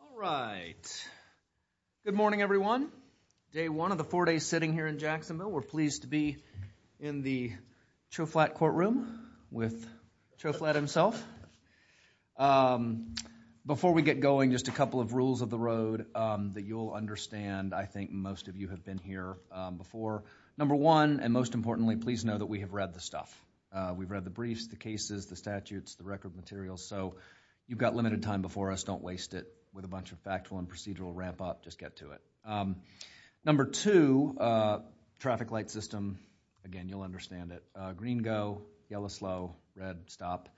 All right. Good morning, everyone. Day one of the four days sitting here in Jacksonville. We're pleased to be in the Cho Flatt courtroom with Cho Flatt himself. Before we get going, just a couple of rules of the road that you'll understand. I think most of you have been here before. Number one, and most importantly, please know that we have read the stuff. We've read the briefs, the cases, the statutes, the record materials, so you've got limited time before us. Don't waste it with a bunch of factual and procedural ramp-up. Just get to it. Number two, traffic light system. Again, you'll understand it. Green go, yellow slow, red stop.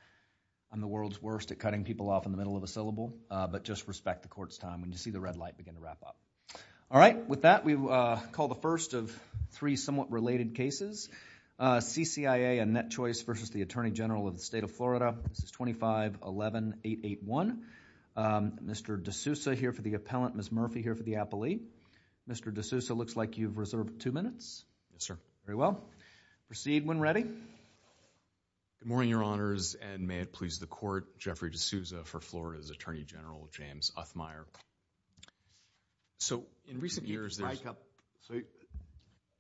I'm the world's worst at cutting people off in the middle of a syllable, but just respect the court's time when you see the red light begin to wrap up. All right. With that, we call the first of three somewhat related cases. CCIA, a net choice versus the Attorney General of the State of Florida. This is 2511881. Mr. DeSouza here for the appellant, Ms. Murphy here for the appellee. Mr. DeSouza, it looks like you've reserved two minutes. Yes, sir. Very well. Proceed when ready. Good morning, Your Honors, and may it please the Court, Jeffrey DeSouza for Florida's Attorney General, James Othmeyer. So, in recent years... Can you hike up?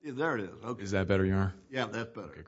There it is. Okay. Is that better, Your Honor? Yeah, that's better.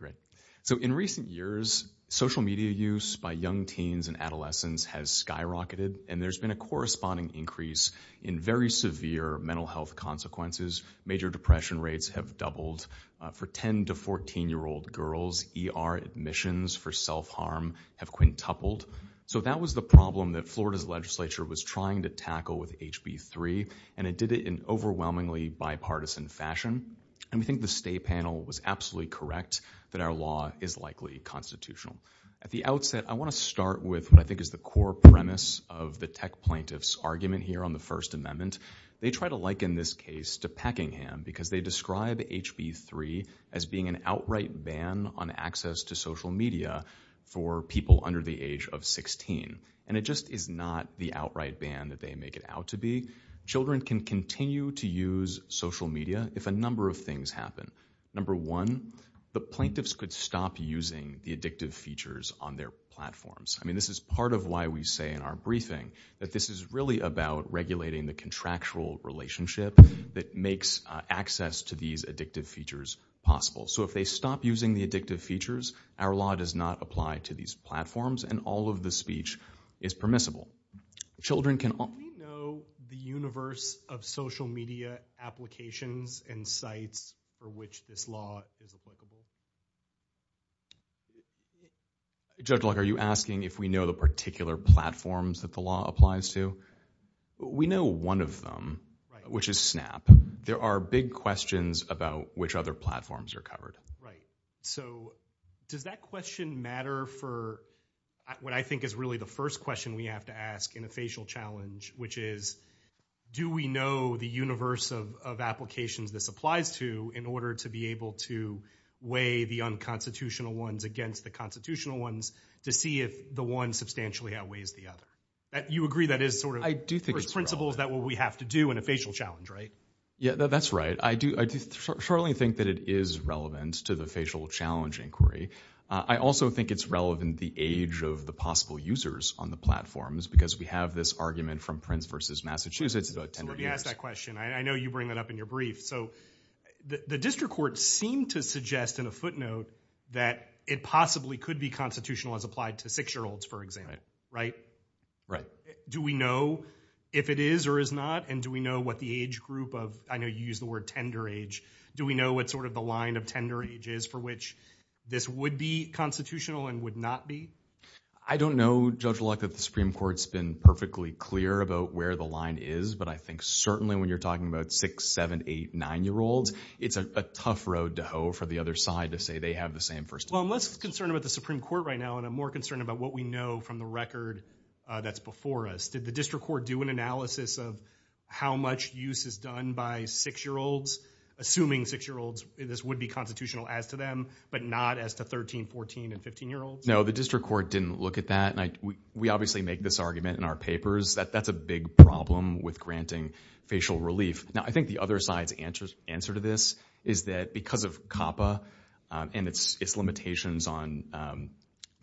So, in recent years, social media use by young teens and adolescents has skyrocketed, and there's been a corresponding increase in very severe mental health consequences. Major depression rates have doubled for 10- to 14-year-old girls. ER admissions for self-harm have quintupled. So that was the problem that Florida's legislature was trying to tackle with HB 3, and it did it in overwhelmingly bipartisan fashion, and we think the State panel was absolutely correct that our law is likely constitutional. At the outset, I want to start with what I think is the core premise of the Tech Plaintiff's argument here on the First Amendment. They try to liken this case to Peckingham because they describe HB 3 as being an outright ban on access to social media for people under the age of 16, and it just is not the outright ban that they make it out to be. Children can continue to use social media if a number of things happen. Number one, the plaintiffs could stop using the addictive features on their platforms. I mean, this is part of why we say in our briefing that this is really about regulating the contractual relationship that makes access to these addictive features possible. So if they stop using the addictive features, our law does not apply to these platforms, and all of the speech is permissible. Children can all— Do we know the universe of social media applications and sites for which this law is applicable? Judge Locke, are you asking if we know the particular platforms that the law applies to? We know one of them, which is Snap. There are big questions about which other platforms are covered. Right. So does that question matter for what I think is really the first question we have to ask in a facial challenge, which is, do we know the universe of applications this applies to in order to be able to weigh the unconstitutional ones against the constitutional ones to see if the one substantially outweighs the other? You agree that is sort of— I do think it's relevant. First principle is that what we have to do in a facial challenge, right? Yeah, that's right. I do certainly think that it is relevant to the facial challenge inquiry. I also think it's relevant the age of the possible users on the platforms because we have this argument from Prince v. Massachusetts about 10 years. Somebody asked that question. I know you bring that up in your brief. So the district courts seem to suggest in a footnote that it possibly could be constitutional as applied to six-year-olds, for example, right? Right. Do we know if it is or is not, and do we know what the age group of—I know you use the word tender age—do we know what sort of the line of tender age is for which this would be constitutional and would not be? I don't know, Judge Luck, that the Supreme Court's been perfectly clear about where the line is, but I think certainly when you're talking about six-, seven-, eight-, nine-year-olds, it's a tough road to hoe for the other side to say they have the same first— Well, I'm less concerned about the Supreme Court right now, and I'm more concerned about what we know from the record that's before us. Did the district court do an analysis of how much use is done by six-year-olds, assuming six-year-olds this would be constitutional as to them, but not as to 13-, 14-, and 15-year-olds? No, the district court didn't look at that. We obviously make this argument in our papers that that's a big problem with granting facial relief. Now, I think the other side's answer to this is that because of COPPA and its limitations on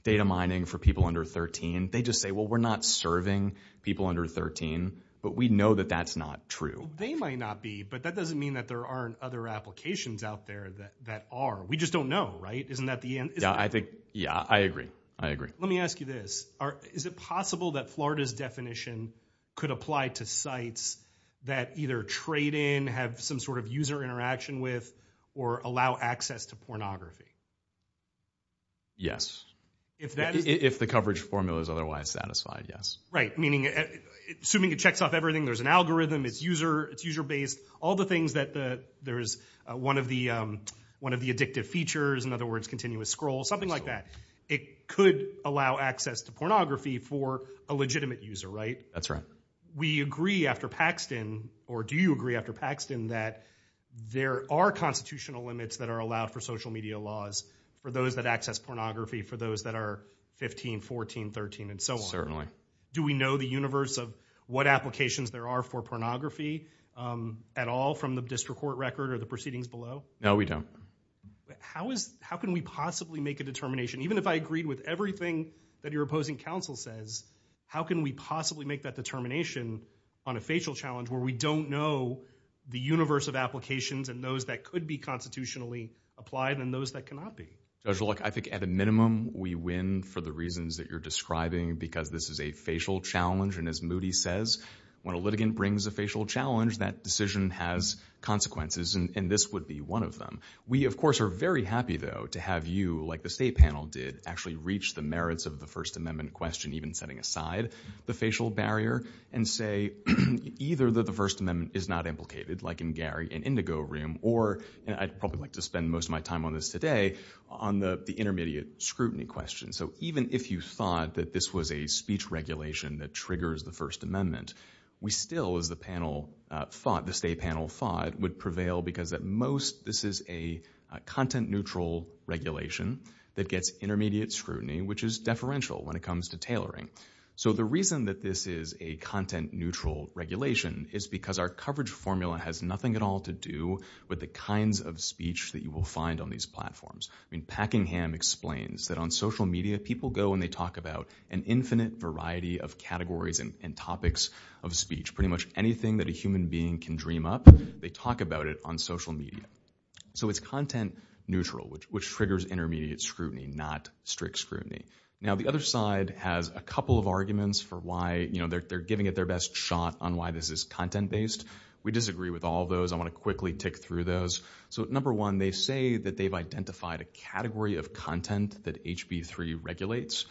data mining for people under 13, they just say, well, we're not serving people under 13, but we know that that's not true. Well, they might not be, but that doesn't mean that there aren't other applications out there that are. We just don't know, right? Isn't that the end? Yeah, I think, yeah, I agree. I agree. Let me ask you this. Is it possible that Florida's definition could apply to sites that either trade in, have some sort of user interaction with, or allow access to pornography? Yes. If the coverage formula is otherwise satisfied, yes. Right, meaning, assuming it checks off everything, there's an algorithm, it's user-based, all the things that there is one of the addictive features, in other words, continuous scroll, something like that, it could allow access to pornography for a legitimate user, right? That's right. We agree after Paxton, or do you agree after Paxton, that there are constitutional limits that are allowed for social media laws for those that access pornography, for those that are 15, 14, 13, and so on? Do we know the universe of what applications there are for pornography at all from the district court record or the proceedings below? No, we don't. How is, how can we possibly make a determination, even if I agreed with everything that your said, determination on a facial challenge where we don't know the universe of applications and those that could be constitutionally applied and those that cannot be? Judge Luck, I think at a minimum, we win for the reasons that you're describing because this is a facial challenge, and as Moody says, when a litigant brings a facial challenge, that decision has consequences, and this would be one of them. We of course are very happy, though, to have you, like the state panel did, actually reach the merits of the First Amendment question, even setting aside the facial barrier, and say either that the First Amendment is not implicated, like in Gary and Indigo room, or, and I'd probably like to spend most of my time on this today, on the intermediate scrutiny question. So even if you thought that this was a speech regulation that triggers the First Amendment, we still, as the panel thought, the state panel thought, would prevail because at most this is a content-neutral regulation that gets intermediate scrutiny, which is deferential when it comes to tailoring. So the reason that this is a content-neutral regulation is because our coverage formula has nothing at all to do with the kinds of speech that you will find on these platforms. I mean, Packingham explains that on social media, people go and they talk about an infinite variety of categories and topics of speech, pretty much anything that a human being can dream up, they talk about it on social media. So it's content-neutral, which triggers intermediate scrutiny, not strict scrutiny. Now the other side has a couple of arguments for why, you know, they're giving it their best shot on why this is content-based. We disagree with all those. I want to quickly tick through those. So number one, they say that they've identified a category of content that HB3 regulates,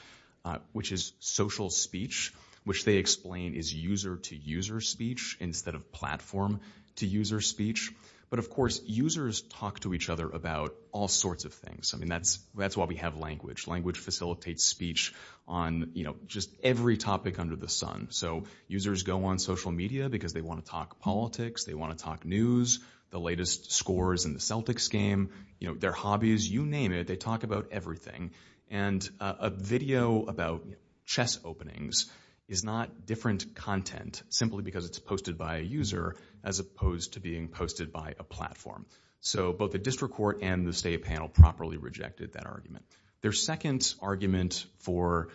which is social speech, which they explain is user-to-user speech instead of platform-to-user speech. But of course, users talk to each other about all sorts of things. I mean, that's why we have language. Language facilitates speech on, you know, just every topic under the sun. So users go on social media because they want to talk politics, they want to talk news, the latest scores in the Celtics game, you know, their hobbies, you name it, they talk about everything. And a video about chess openings is not different content simply because it's posted by a user as opposed to being posted by a platform. So both the district court and the state panel properly rejected that argument. Their second argument for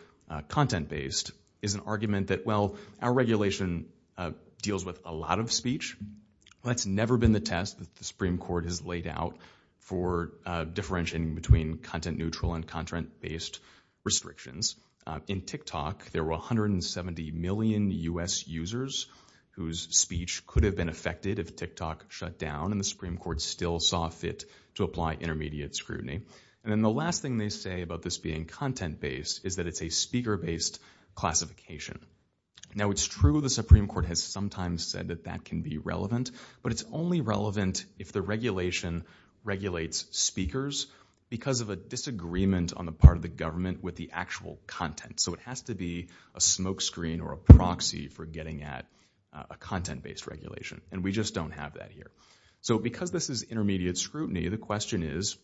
content-based is an argument that, well, our regulation deals with a lot of speech. That's never been the test that the Supreme Court has laid out for differentiating between content-neutral and content-based restrictions. In TikTok, there were 170 million U.S. users whose speech could have been affected if TikTok shut down and the Supreme Court still saw fit to apply intermediate scrutiny. And then the last thing they say about this being content-based is that it's a speaker-based classification. Now, it's true the Supreme Court has sometimes said that that can be relevant, but it's only relevant if the regulation regulates speakers because of a disagreement on the part of the government with the actual content. So it has to be a smokescreen or a proxy for getting at a content-based regulation. And we just don't have that here. So because this is intermediate scrutiny, the question is,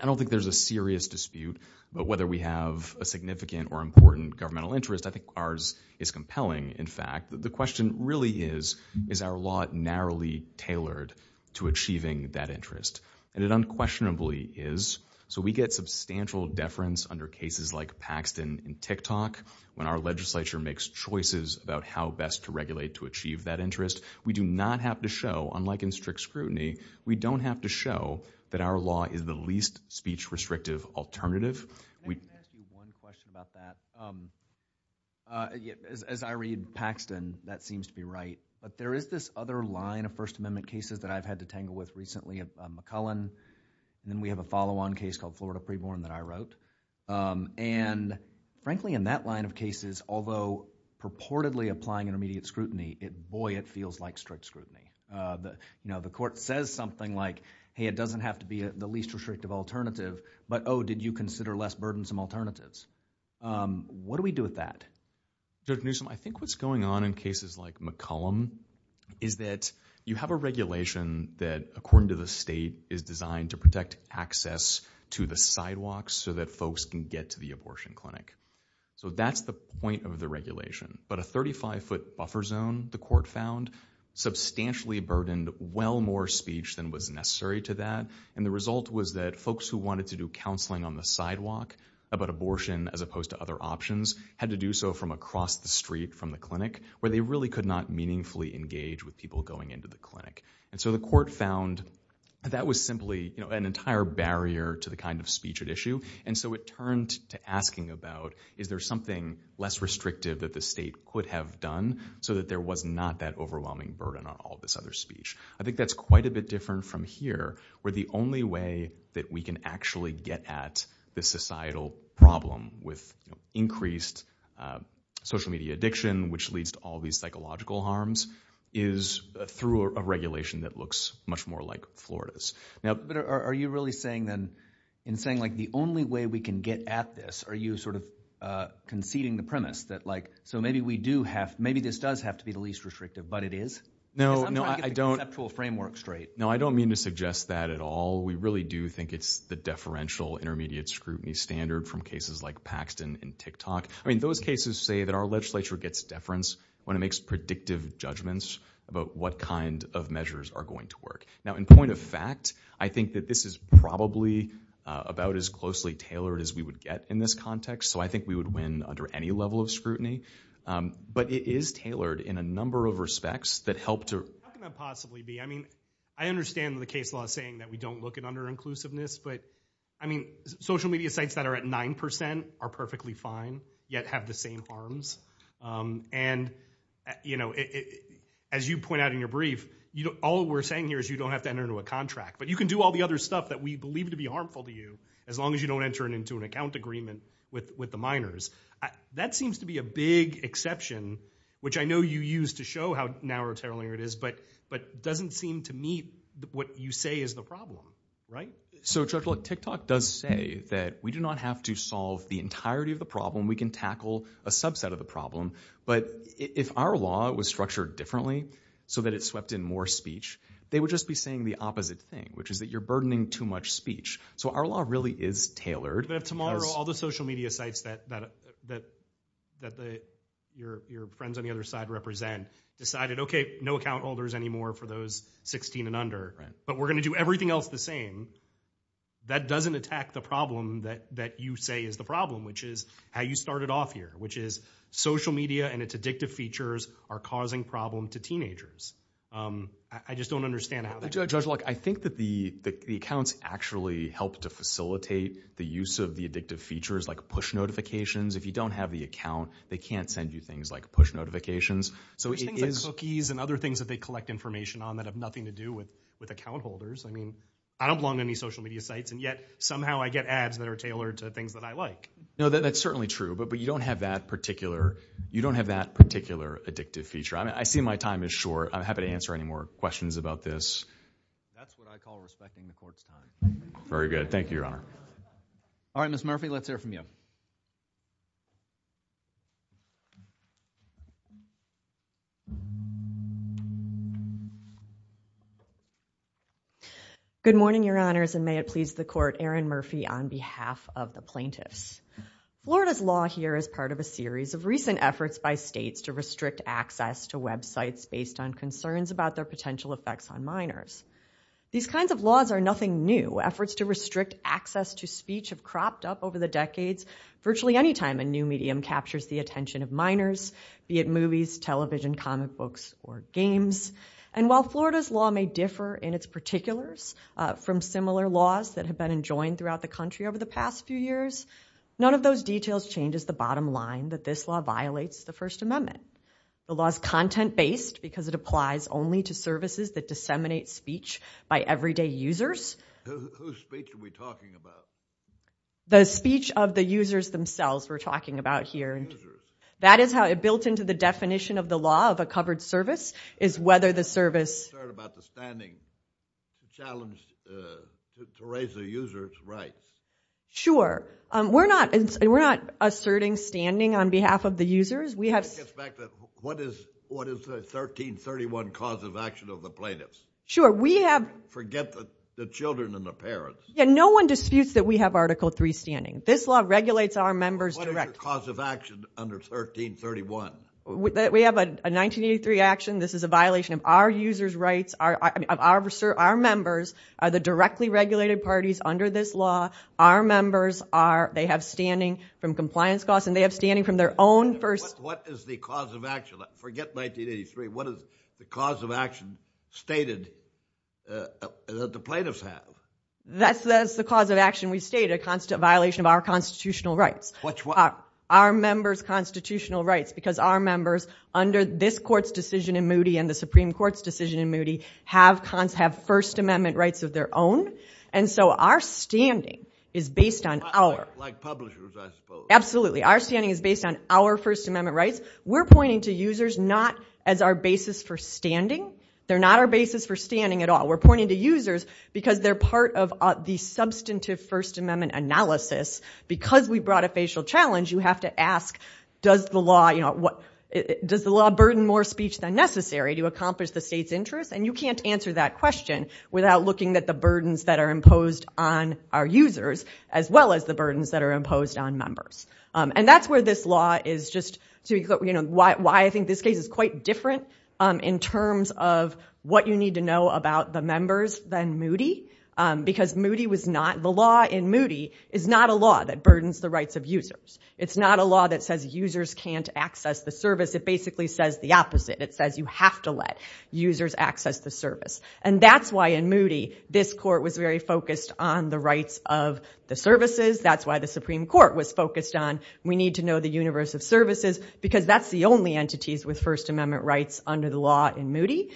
I don't think there's a serious dispute, but whether we have a significant or important governmental interest, I think ours is compelling, in fact. The question really is, is our law narrowly tailored to achieving that interest? And it unquestionably is. So we get substantial deference under cases like Paxton in TikTok when our legislature makes choices about how best to regulate to achieve that interest. We do not have to show, unlike in strict scrutiny, we don't have to show that our law is the least speech-restrictive alternative. Can I ask you one question about that? As I read Paxton, that seems to be right, but there is this other line of First Amendment cases that I've had to tangle with recently, McCullen, and then we have a follow-on case called Florida Preborn that I wrote. And frankly, in that line of cases, although purportedly applying intermediate scrutiny, boy, it feels like strict scrutiny. The court says something like, hey, it doesn't have to be the least restrictive alternative, but, oh, did you consider less burdensome alternatives? What do we do with that? Judge Newsom, I think what's going on in cases like McCullen is that you have a regulation that, according to the state, is designed to protect access to the sidewalks so that folks can get to the abortion clinic. So that's the point of the regulation. But a 35-foot buffer zone, the court found, substantially burdened well more speech than was necessary to that. And the result was that folks who wanted to do counseling on the sidewalk about abortion as opposed to other options had to do so from across the street from the clinic, where they really could not meaningfully engage with people going into the clinic. And so the court found that was simply an entire barrier to the kind of speech at issue. And so it turned to asking about, is there something less restrictive that the state could have done so that there was not that overwhelming burden on all this other speech? I think that's quite a bit different from here, where the only way that we can actually get at the societal problem with increased social media addiction, which leads to all these psychological harms, is through a regulation that looks much more like Florida's. But are you really saying then, in saying the only way we can get at this, are you sort of conceding the premise that, so maybe this does have to be the least restrictive, but it is? Because I'm trying to get the conceptual framework straight. No, I don't mean to suggest that at all. We really do think it's the deferential intermediate scrutiny standard from cases like Paxton and TikTok. I mean, those cases say that our legislature gets deference when it makes predictive judgments about what kind of measures are going to work. Now, in point of fact, I think that this is probably about as closely tailored as we would get in this context. So I think we would win under any level of scrutiny. But it is tailored in a number of respects that help to... How can that possibly be? I mean, I understand the case law saying that we don't look at under-inclusiveness, but I mean, social media sites that are at 9% are perfectly fine, yet have the same harms. And as you point out in your brief, all we're saying here is you don't have to enter into a contract. But you can do all the other stuff that we believe to be harmful to you, as long as you don't enter it into an account agreement with the minors. That seems to be a big exception, which I know you use to show how narrow-tailoring it is, but doesn't seem to meet what you say is the problem, right? So Judge, look, TikTok does say that we do not have to solve the entirety of the problem. We can tackle a subset of the problem. But if our law was structured differently, so that it swept in more speech, they would just be saying the opposite thing, which is that you're burdening too much speech. So our law really is tailored. But if tomorrow, all the social media sites that your friends on the other side represent decided, okay, no account holders anymore for those 16 and under, but we're going to do everything else the same, that doesn't attack the problem that you say is the problem, which is how you started off here, which is social media and its addictive features are causing problem to teenagers. I just don't understand how that... Judge, look, I think that the accounts actually help to facilitate the use of the addictive features like push notifications. If you don't have the account, they can't send you things like push notifications. So it is... There's things like cookies and other things that they collect information on that have nothing to do with account holders. I mean, I don't belong to any social media sites, and yet somehow I get ads that are tailored to things that I like. No, that's certainly true, but you don't have that particular addictive feature. I see my time is short. I'm happy to answer any more questions about this. That's what I call respecting the court's time. Very good. Thank you, Your Honor. All right, Ms. Murphy, let's hear from you. Good morning, Your Honors, and may it please the court, Erin Murphy on behalf of the plaintiffs. Florida's law here is part of a series of recent efforts by states to restrict access to websites based on concerns about their potential effects on minors. These kinds of laws are nothing new. Efforts to restrict access to speech have cropped up over the decades virtually any time a new medium captures the attention of minors, be it movies, television, comic books, or games. And while Florida's law may differ in its particulars from similar laws that have been enjoined throughout the country over the past few years, none of those details changes the bottom line that this law violates the First Amendment. The law is content-based because it applies only to services that disseminate speech by everyday users. Whose speech are we talking about? The speech of the users themselves we're talking about here. That is how it built into the definition of the law of a covered service is whether the service... I'm concerned about the standing challenge to raise the user's rights. Sure. We're not asserting standing on behalf of the users. What is the 1331 cause of action of the plaintiffs? We have... Forget the children and the parents. Yeah. No one disputes that we have Article III standing. This law regulates our members directly. What is your cause of action under 1331? We have a 1983 action. This is a violation of our users' rights, of our members, the directly regulated parties under this law. Our members, they have standing from compliance costs and they have standing from their own What is the cause of action? Forget 1983. What is the cause of action stated that the plaintiffs have? That's the cause of action we state, a constant violation of our constitutional rights. Our members' constitutional rights because our members, under this court's decision in Moody and the Supreme Court's decision in Moody, have first amendment rights of their own, and so our standing is based on our... Like publishers, I suppose. Absolutely. Our standing is based on our first amendment rights. We're pointing to users not as our basis for standing. They're not our basis for standing at all. We're pointing to users because they're part of the substantive first amendment analysis. Because we brought a facial challenge, you have to ask, does the law burden more speech than necessary to accomplish the state's interest? And you can't answer that question without looking at the burdens that are imposed on our users as well as the burdens that are imposed on members. And that's where this law is just... Why I think this case is quite different in terms of what you need to know about the members than Moody, because Moody was not... The law in Moody is not a law that burdens the rights of users. It's not a law that says users can't access the service. It basically says the opposite. It says you have to let users access the service. And that's why in Moody, this court was very focused on the rights of the services. That's why the Supreme Court was focused on, we need to know the universe of services, because that's the only entities with first amendment rights under the law in Moody.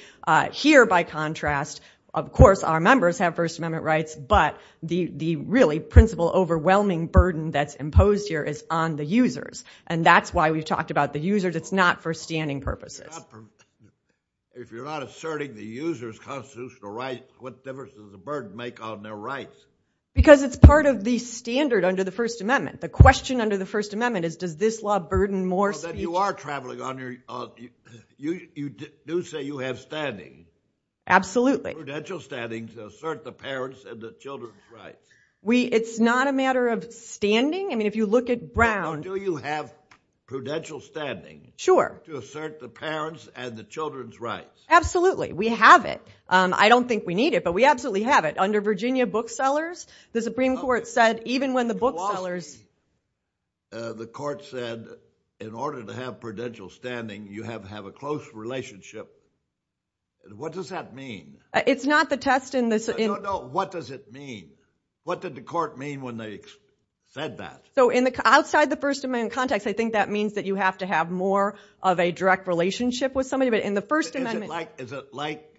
Here by contrast, of course, our members have first amendment rights, but the really principle overwhelming burden that's imposed here is on the users. And that's why we've talked about the users. It's not for standing purposes. If you're not asserting the user's constitutional rights, what difference does the burden make on their rights? Because it's part of the standard under the first amendment. The question under the first amendment is, does this law burden more speech? You are traveling on your... You do say you have standing. Absolutely. Prudential standing to assert the parents and the children's rights. It's not a matter of standing. If you look at Brown... Do you have prudential standing? Sure. To assert the parents and the children's rights. We have it. I don't think we need it, but we absolutely have it. Under Virginia booksellers, the Supreme Court said, even when the booksellers... The court said, in order to have prudential standing, you have to have a close relationship. What does that mean? It's not the test in this... No, no. What does it mean? What did the court mean when they said that? Outside the first amendment context, I think that means that you have to have more of a direct relationship with somebody, but in the first amendment... Is it like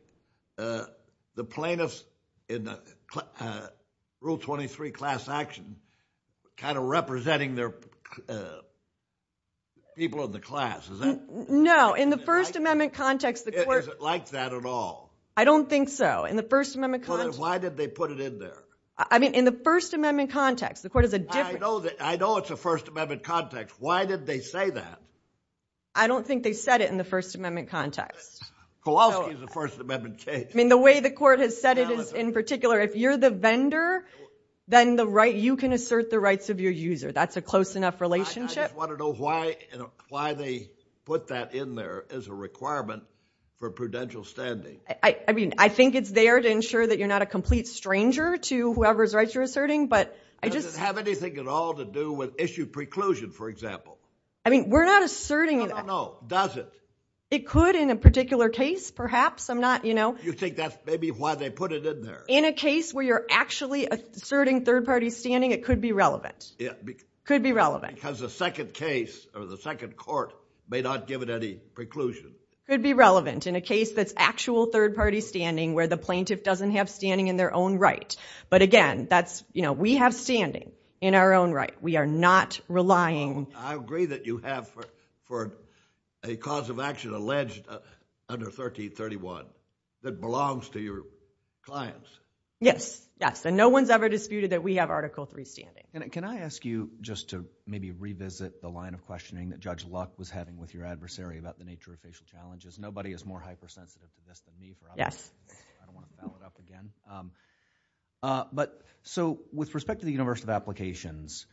the plaintiffs in rule 23 class action, kind of representing the people in the class? Is that... No. In the first amendment context, the court... Is it like that at all? I don't think so. In the first amendment context... Well, then why did they put it in there? I mean, in the first amendment context, the court is a different... I know it's a first amendment context. Why did they say that? I don't think they said it in the first amendment context. Kowalski is a first amendment case. The way the court has said it is, in particular, if you're the vendor, then you can assert the rights of your user. That's a close enough relationship. I just want to know why they put that in there as a requirement for prudential standing. I think it's there to ensure that you're not a complete stranger to whoever's rights you're asserting, but I just... Does it have anything at all to do with issue preclusion, for example? I mean, we're not asserting that. No, no, no. Does it? It could in a particular case, perhaps. I'm not... You think that's maybe why they put it in there? In a case where you're actually asserting third party standing, it could be relevant. Could be relevant. Because the second case, or the second court, may not give it any preclusion. Could be relevant in a case that's actual third party standing where the plaintiff doesn't have standing in their own right. But again, that's... We have standing in our own right. We are not relying... I agree that you have for a cause of action alleged under 1331 that belongs to your clients. Yes. Yes. And no one's ever disputed that we have Article III standing. Can I ask you just to maybe revisit the line of questioning that Judge Luck was having with your adversary about the nature of facial challenges? Nobody is more hypersensitive to this than me. Yes. I don't want to foul it up again. But, so, with respect to the universe of applications,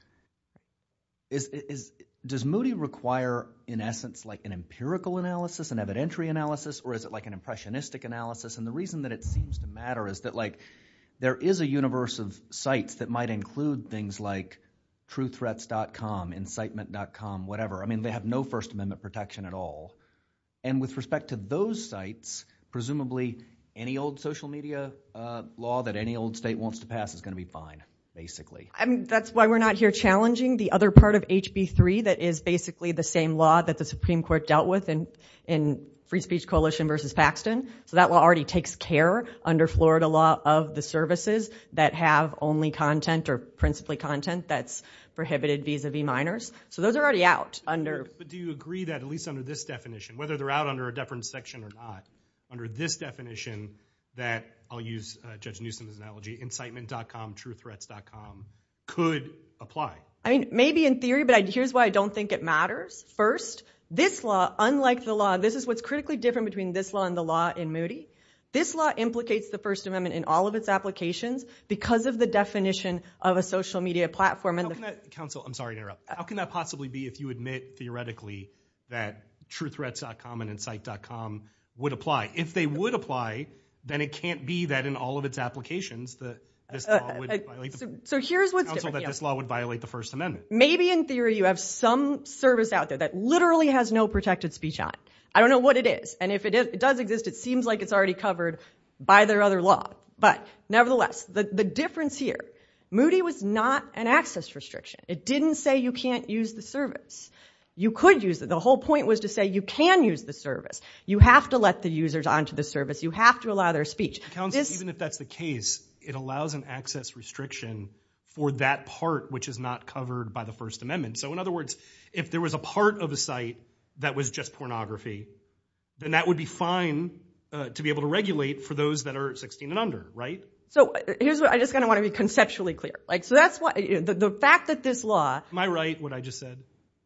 does Moody require, in essence, an empirical analysis? An evidentiary analysis? Or is it an impressionistic analysis? And the reason that it seems to matter is that there is a universe of sites that might include things like truththreats.com, incitement.com, whatever. They have no First Amendment protection at all. And with respect to those sites, presumably any old social media law that any old state wants to pass is going to be fine, basically. That's why we're not here challenging the other part of HB3 that is basically the same law that the Supreme Court dealt with in Free Speech Coalition versus Paxton. So that law already takes care, under Florida law, of the services that have only content or principally content that's prohibited vis-a-vis minors. So those are already out. But do you agree that, at least under this definition, whether they're out under a deference section or not, under this definition that, I'll use Judge Newsom's analogy, incitement.com, truththreats.com could apply? I mean, maybe in theory, but here's why I don't think it matters. First, this law, unlike the law, this is what's critically different between this law and the law in Moody. This law implicates the First Amendment in all of its applications because of the definition of a social media platform. How can that, counsel, I'm sorry to interrupt. How can that possibly be if you admit, theoretically, that truththreats.com and incite.com would apply? If they would apply, then it can't be that in all of its applications that this law would violate the First Amendment. So here's what's different. Counsel, that this law would violate the First Amendment. Maybe in theory you have some service out there that literally has no protected speech on it. I don't know what it is. And if it does exist, it seems like it's already covered by their other law. But nevertheless, the difference here, Moody was not an access restriction. It didn't say you can't use the service. You could use it. The whole point was to say you can use the service. You have to let the users onto the service. You have to allow their speech. Counsel, even if that's the case, it allows an access restriction for that part which is not covered by the First Amendment. So in other words, if there was a part of a site that was just pornography, then that would be fine to be able to regulate for those that are 16 and under, right? So here's what, I just kind of want to be conceptually clear. So that's what, the fact that this law- Am I right, what I just said?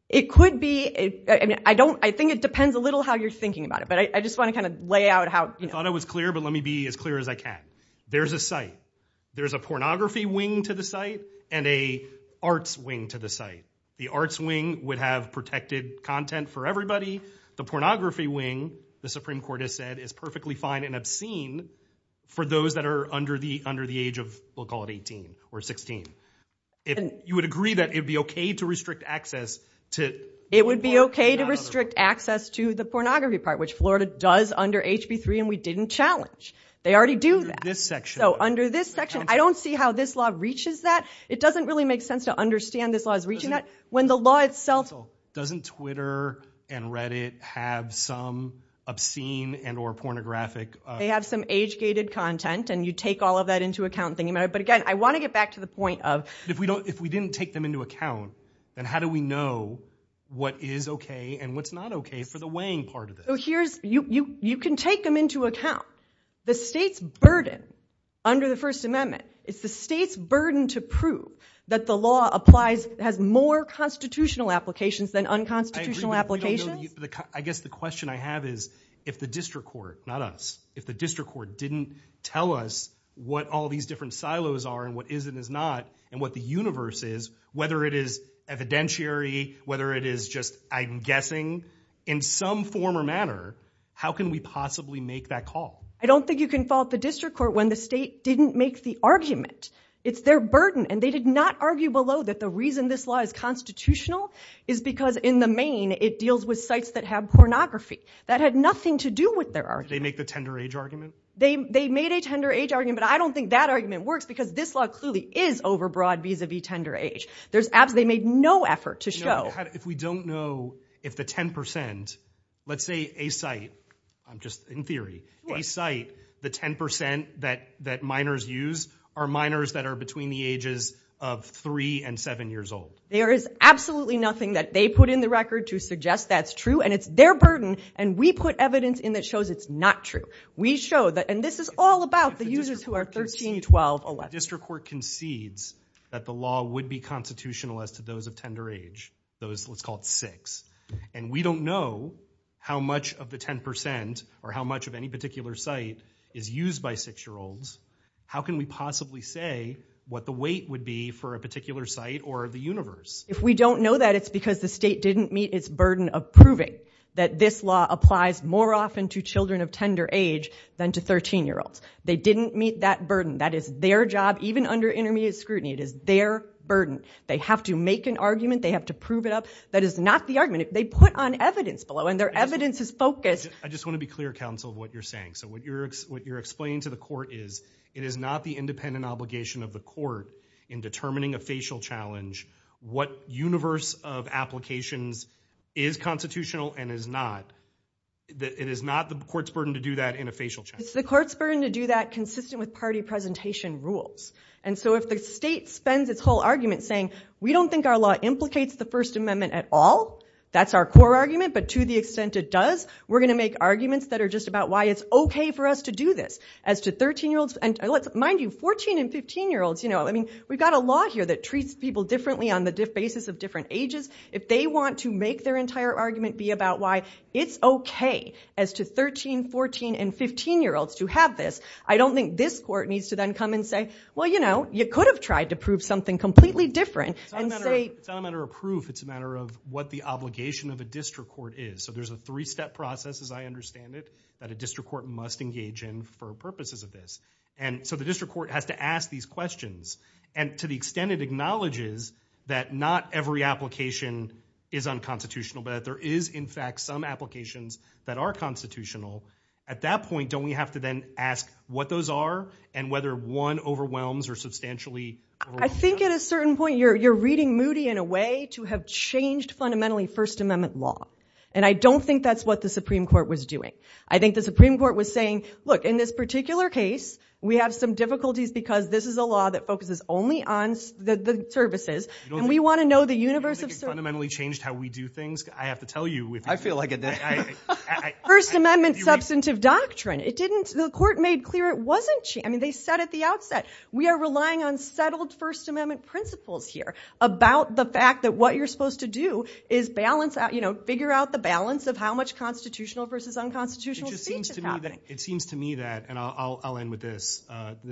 It could be. I mean, I don't, I think it depends a little how you're thinking about it, but I just want to kind of lay out how- I thought I was clear, but let me be as clear as I can. There's a site. There's a pornography wing to the site and a arts wing to the site. The arts wing would have protected content for everybody. The pornography wing, the Supreme Court has said, is perfectly fine and obscene for those that are under the age of, we'll call it 18 or 16. You would agree that it'd be okay to restrict access to- It would be okay to restrict access to the pornography part, which Florida does under HB 3 and we didn't challenge. They already do that. Under this section. So under this section, I don't see how this law reaches that. It doesn't really make sense to understand this law is reaching that when the law itself- Doesn't Twitter and Reddit have some obscene and or pornographic- They have some age gated content and you take all of that into account, but again, I want to get back to the point of- If we didn't take them into account, then how do we know what is okay and what's not okay for the weighing part of it? You can take them into account. The state's burden under the First Amendment, it's the state's burden to prove that the law applies, has more constitutional applications than unconstitutional applications. I guess the question I have is if the district court, not us, if the district court didn't tell us what all these different silos are and what is and is not and what the universe is, whether it is evidentiary, whether it is just, I'm guessing, in some form or manner, how can we possibly make that call? I don't think you can fault the district court when the state didn't make the argument. It's their burden and they did not argue below that the reason this law is constitutional is because in the main, it deals with sites that have pornography. That had nothing to do with their argument. Did they make the tender age argument? They made a tender age argument. I don't think that argument works because this law clearly is overbroad vis-a-vis tender age. They made no effort to show- If we don't know if the 10%, let's say a site, just in theory, a site, the 10% that minors use are minors that are between the ages of three and seven years old. There is absolutely nothing that they put in the record to suggest that's true and it's their burden and we put evidence in that shows it's not true. We show that, and this is all about the users who are 13, 12, 11. If the district court concedes that the law would be constitutional as to those of tender age, those, let's call it six, and we don't know how much of the 10% or how much of any particular site is used by six-year-olds, how can we possibly say what the weight would be for a particular site or the universe? If we don't know that, it's because the state didn't meet its burden of proving that this law applies more often to children of tender age than to 13-year-olds. They didn't meet that burden. That is their job. Even under intermediate scrutiny, it is their burden. They have to make an argument. They have to prove it up. That is not the argument. If they put on evidence below and their evidence is focused- I just want to be clear, counsel, of what you're saying. So what you're explaining to the court is it is not the independent obligation of the court in determining a facial challenge what universe of applications is constitutional and is not. It is not the court's burden to do that in a facial challenge. It's the court's burden to do that consistent with party presentation rules. And so if the state spends its whole argument saying, we don't think our law implicates the First Amendment at all, that's our core argument, but to the extent it does, we're going to make arguments that are just about why it's okay for us to do this as to 13-year-olds. And mind you, 14- and 15-year-olds, we've got a law here that treats people differently on the basis of different ages. If they want to make their entire argument be about why it's okay as to 13-, 14-, and 15-year-olds to have this, I don't think this court needs to then come and say, well, you know, you could have tried to prove something completely different and say- It's not a matter of proof. It's a matter of what the obligation of a district court is. So there's a three-step process, as I understand it, that a district court must engage in for the purposes of this. And so the district court has to ask these questions. And to the extent it acknowledges that not every application is unconstitutional, but that there is, in fact, some applications that are constitutional, at that point, don't we have to then ask what those are and whether one overwhelms or substantially- I think at a certain point, you're reading Moody in a way to have changed fundamentally First Amendment law. And I don't think that's what the Supreme Court was doing. I think the Supreme Court was saying, look, in this particular case, we have some difficulties because this is a law that focuses only on the services, and we want to know the universe of- You don't think it fundamentally changed how we do things? I have to tell you- I feel like it did. First Amendment substantive doctrine. It didn't- the court made clear it wasn't- I mean, they said at the outset, we are relying on settled First Amendment principles here about the fact that what you're supposed to do is balance out, you know, figure out the balance of how much constitutional versus unconstitutional speech is happening. It seems to me that, and I'll end with this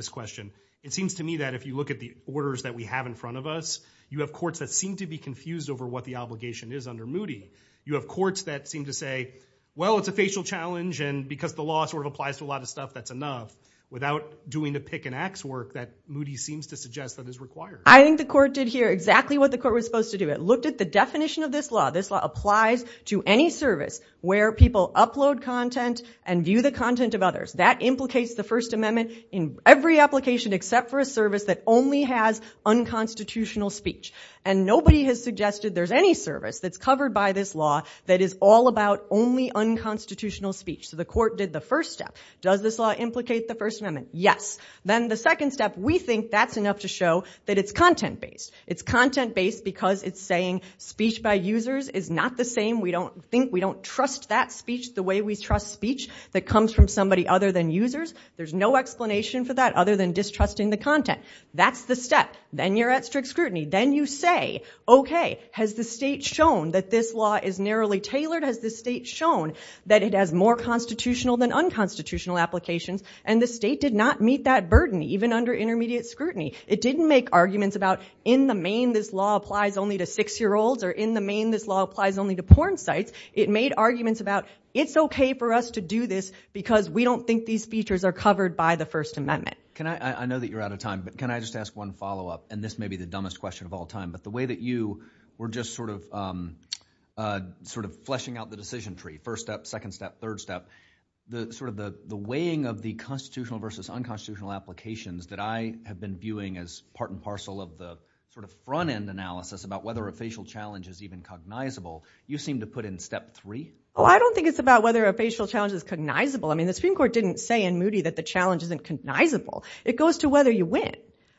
question, it seems to me that if you look at the orders that we have in front of us, you have courts that seem to be confused over what the obligation is under Moody. You have courts that seem to say, well, it's a facial challenge, and because the law sort of applies to a lot of stuff, that's enough, without doing the pick-and-axe work that Moody seems to suggest that is required. I think the court did here exactly what the court was supposed to do. It looked at the definition of this law. This law applies to any service where people upload content and view the content of others. That implicates the First Amendment in every application except for a service that only has unconstitutional speech. And nobody has suggested there's any service that's covered by this law that is all about only unconstitutional speech, so the court did the first step. Does this law implicate the First Amendment? Yes. Then the second step, we think that's enough to show that it's content-based. It's content-based because it's saying speech by users is not the same. We don't think, we don't trust that speech the way we trust speech that comes from somebody other than users. There's no explanation for that other than distrusting the content. That's the step. Then you're at strict scrutiny. Then you say, okay, has the state shown that this law is narrowly tailored? Has the state shown that it has more constitutional than unconstitutional applications? And the state did not meet that burden, even under intermediate scrutiny. It didn't make arguments about, in the main, this law applies only to six-year-olds or in the main, this law applies only to porn sites. It made arguments about, it's okay for us to do this because we don't think these features are covered by the First Amendment. Can I, I know that you're out of time, but can I just ask one follow-up, and this may be the dumbest question of all time, but the way that you were just sort of, sort of fleshing out the decision tree, first step, second step, third step, the sort of the weighing of the constitutional versus unconstitutional applications that I have been viewing as part and parcel of the sort of front-end analysis about whether a facial challenge is even cognizable, you seem to put in step three. Oh, I don't think it's about whether a facial challenge is cognizable. I mean, the Supreme Court didn't say in Moody that the challenge isn't cognizable. It goes to whether you win.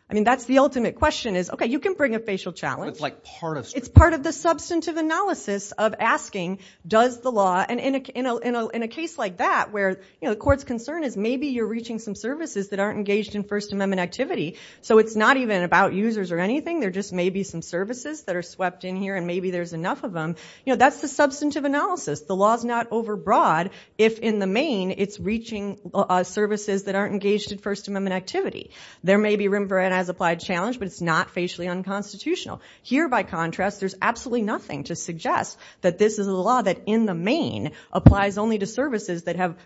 I mean, that's the ultimate question is, okay, you can bring a facial challenge. It's like part of. It's part of the substantive analysis of asking, does the law, and in a, in a, in a case like that where, you know, the court's concern is maybe you're reaching some services that aren't engaged in First Amendment activity, so it's not even about users or anything. There just may be some services that are swept in here, and maybe there's enough of them. You know, that's the substantive analysis. The law's not overbroad if in the main it's reaching services that aren't engaged in First Amendment activity. There may be Rembrandt as applied challenge, but it's not facially unconstitutional. Here by contrast, there's absolutely nothing to suggest that this is a law that in the main applies only to services that have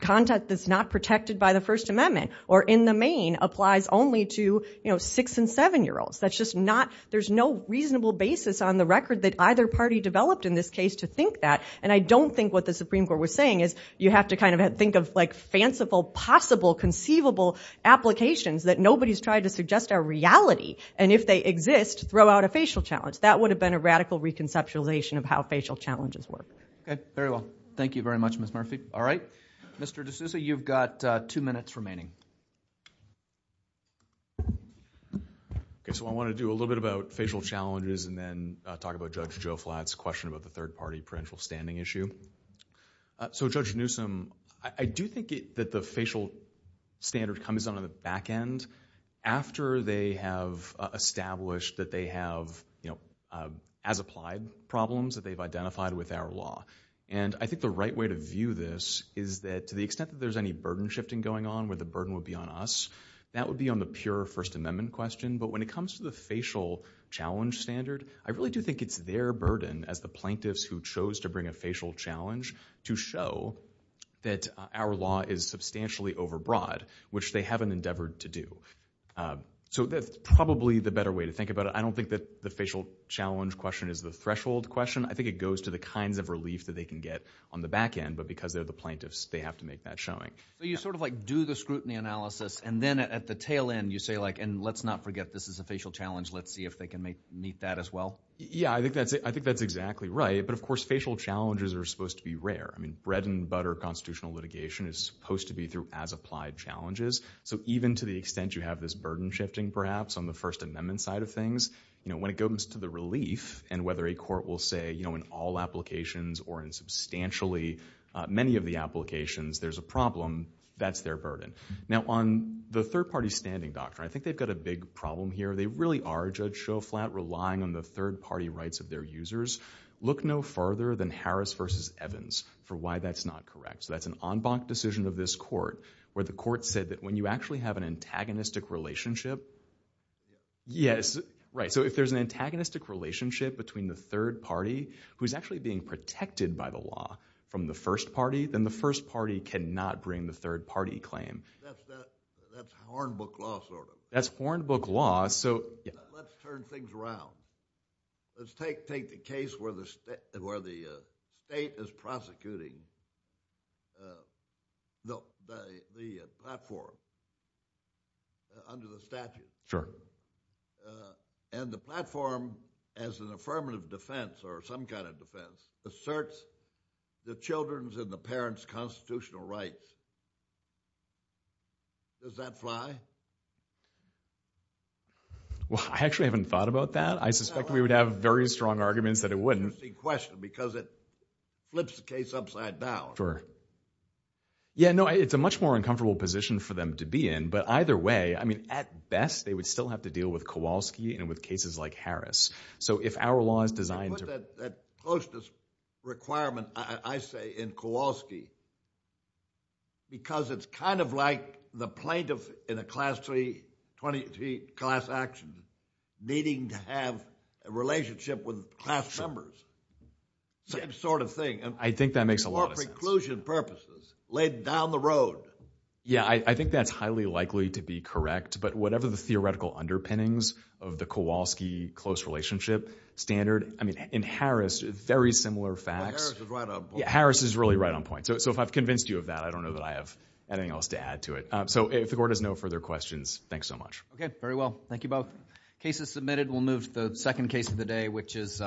content that's not protected by the First Amendment, or in the main applies only to, you know, six and seven year olds. That's just not, there's no reasonable basis on the record that either party developed in this case to think that, and I don't think what the Supreme Court was saying is you have to kind of think of like fanciful, possible, conceivable applications that nobody's tried to suggest are reality, and if they exist, throw out a facial challenge. That would have been a radical reconceptualization of how facial challenges work. Okay, very well. Thank you very much, Ms. Murphy. All right. Mr. D'Souza, you've got two minutes remaining. Okay, so I want to do a little bit about facial challenges and then talk about Judge Joe Flatt's question about the third party prudential standing issue. So Judge Newsom, I do think that the facial standard comes on the back end after they have established that they have, you know, as applied problems that they've identified with our law, and I think the right way to view this is that to the extent that there's any burden shifting going on where the burden would be on us, that would be on the pure First Amendment question, but when it comes to the facial challenge standard, I really do think it's their burden as the plaintiffs who chose to bring a facial challenge to show that our law is substantially overbroad, which they haven't endeavored to do. So that's probably the better way to think about it. I don't think that the facial challenge question is the threshold question. I think it goes to the kinds of relief that they can get on the back end, but because they're the plaintiffs, they have to make that showing. So you sort of like do the scrutiny analysis, and then at the tail end, you say like, and let's not forget this is a facial challenge, let's see if they can meet that as well? Yeah, I think that's exactly right, but of course, facial challenges are supposed to be rare. I mean, bread and butter constitutional litigation is supposed to be through as applied challenges. So even to the extent you have this burden shifting perhaps on the First Amendment side of things, you know, when it goes to the relief and whether a court will say, you know, in all applications or in substantially many of the applications, there's a problem, that's their burden. Now on the third party standing doctrine, I think they've got a big problem here. They really are, Judge Schoflat, relying on the third party rights of their users. Look no further than Harris versus Evans for why that's not correct. So that's an en banc decision of this court where the court said that when you actually have an antagonistic relationship, yes, right. So if there's an antagonistic relationship between the third party, who's actually being protected by the law from the first party, then the first party cannot bring the third party claim. That's Hornbook law, sort of. That's Hornbook law, so. Let's turn things around. Let's take the case where the state is prosecuting the platform under the statute, and the platform as an affirmative defense or some kind of defense asserts the children's and the parents' constitutional rights. Does that fly? Well, I actually haven't thought about that. I suspect we would have very strong arguments that it wouldn't. Because it flips the case upside down. Yeah, no, it's a much more uncomfortable position for them to be in, but either way, I mean, at best, they would still have to deal with Kowalski and with cases like Harris. So if our law is designed to... That closeness requirement, I say, in Kowalski, because it's kind of like the plaintiff in a class 3, class action, needing to have a relationship with class members, same sort of thing. I think that makes a lot of sense. For preclusion purposes, laid down the road. Yeah, I think that's highly likely to be correct, but whatever the theoretical underpinnings of the Kowalski close relationship standard, I mean, in Harris, very similar facts. But Harris is right on point. Yeah, Harris is really right on point. So if I've convinced you of that, I don't know that I have anything else to add to it. So if the court has no further questions, thanks so much. Okay, very well. Thank you both. Case is submitted. We'll move to the second case of the day, which is...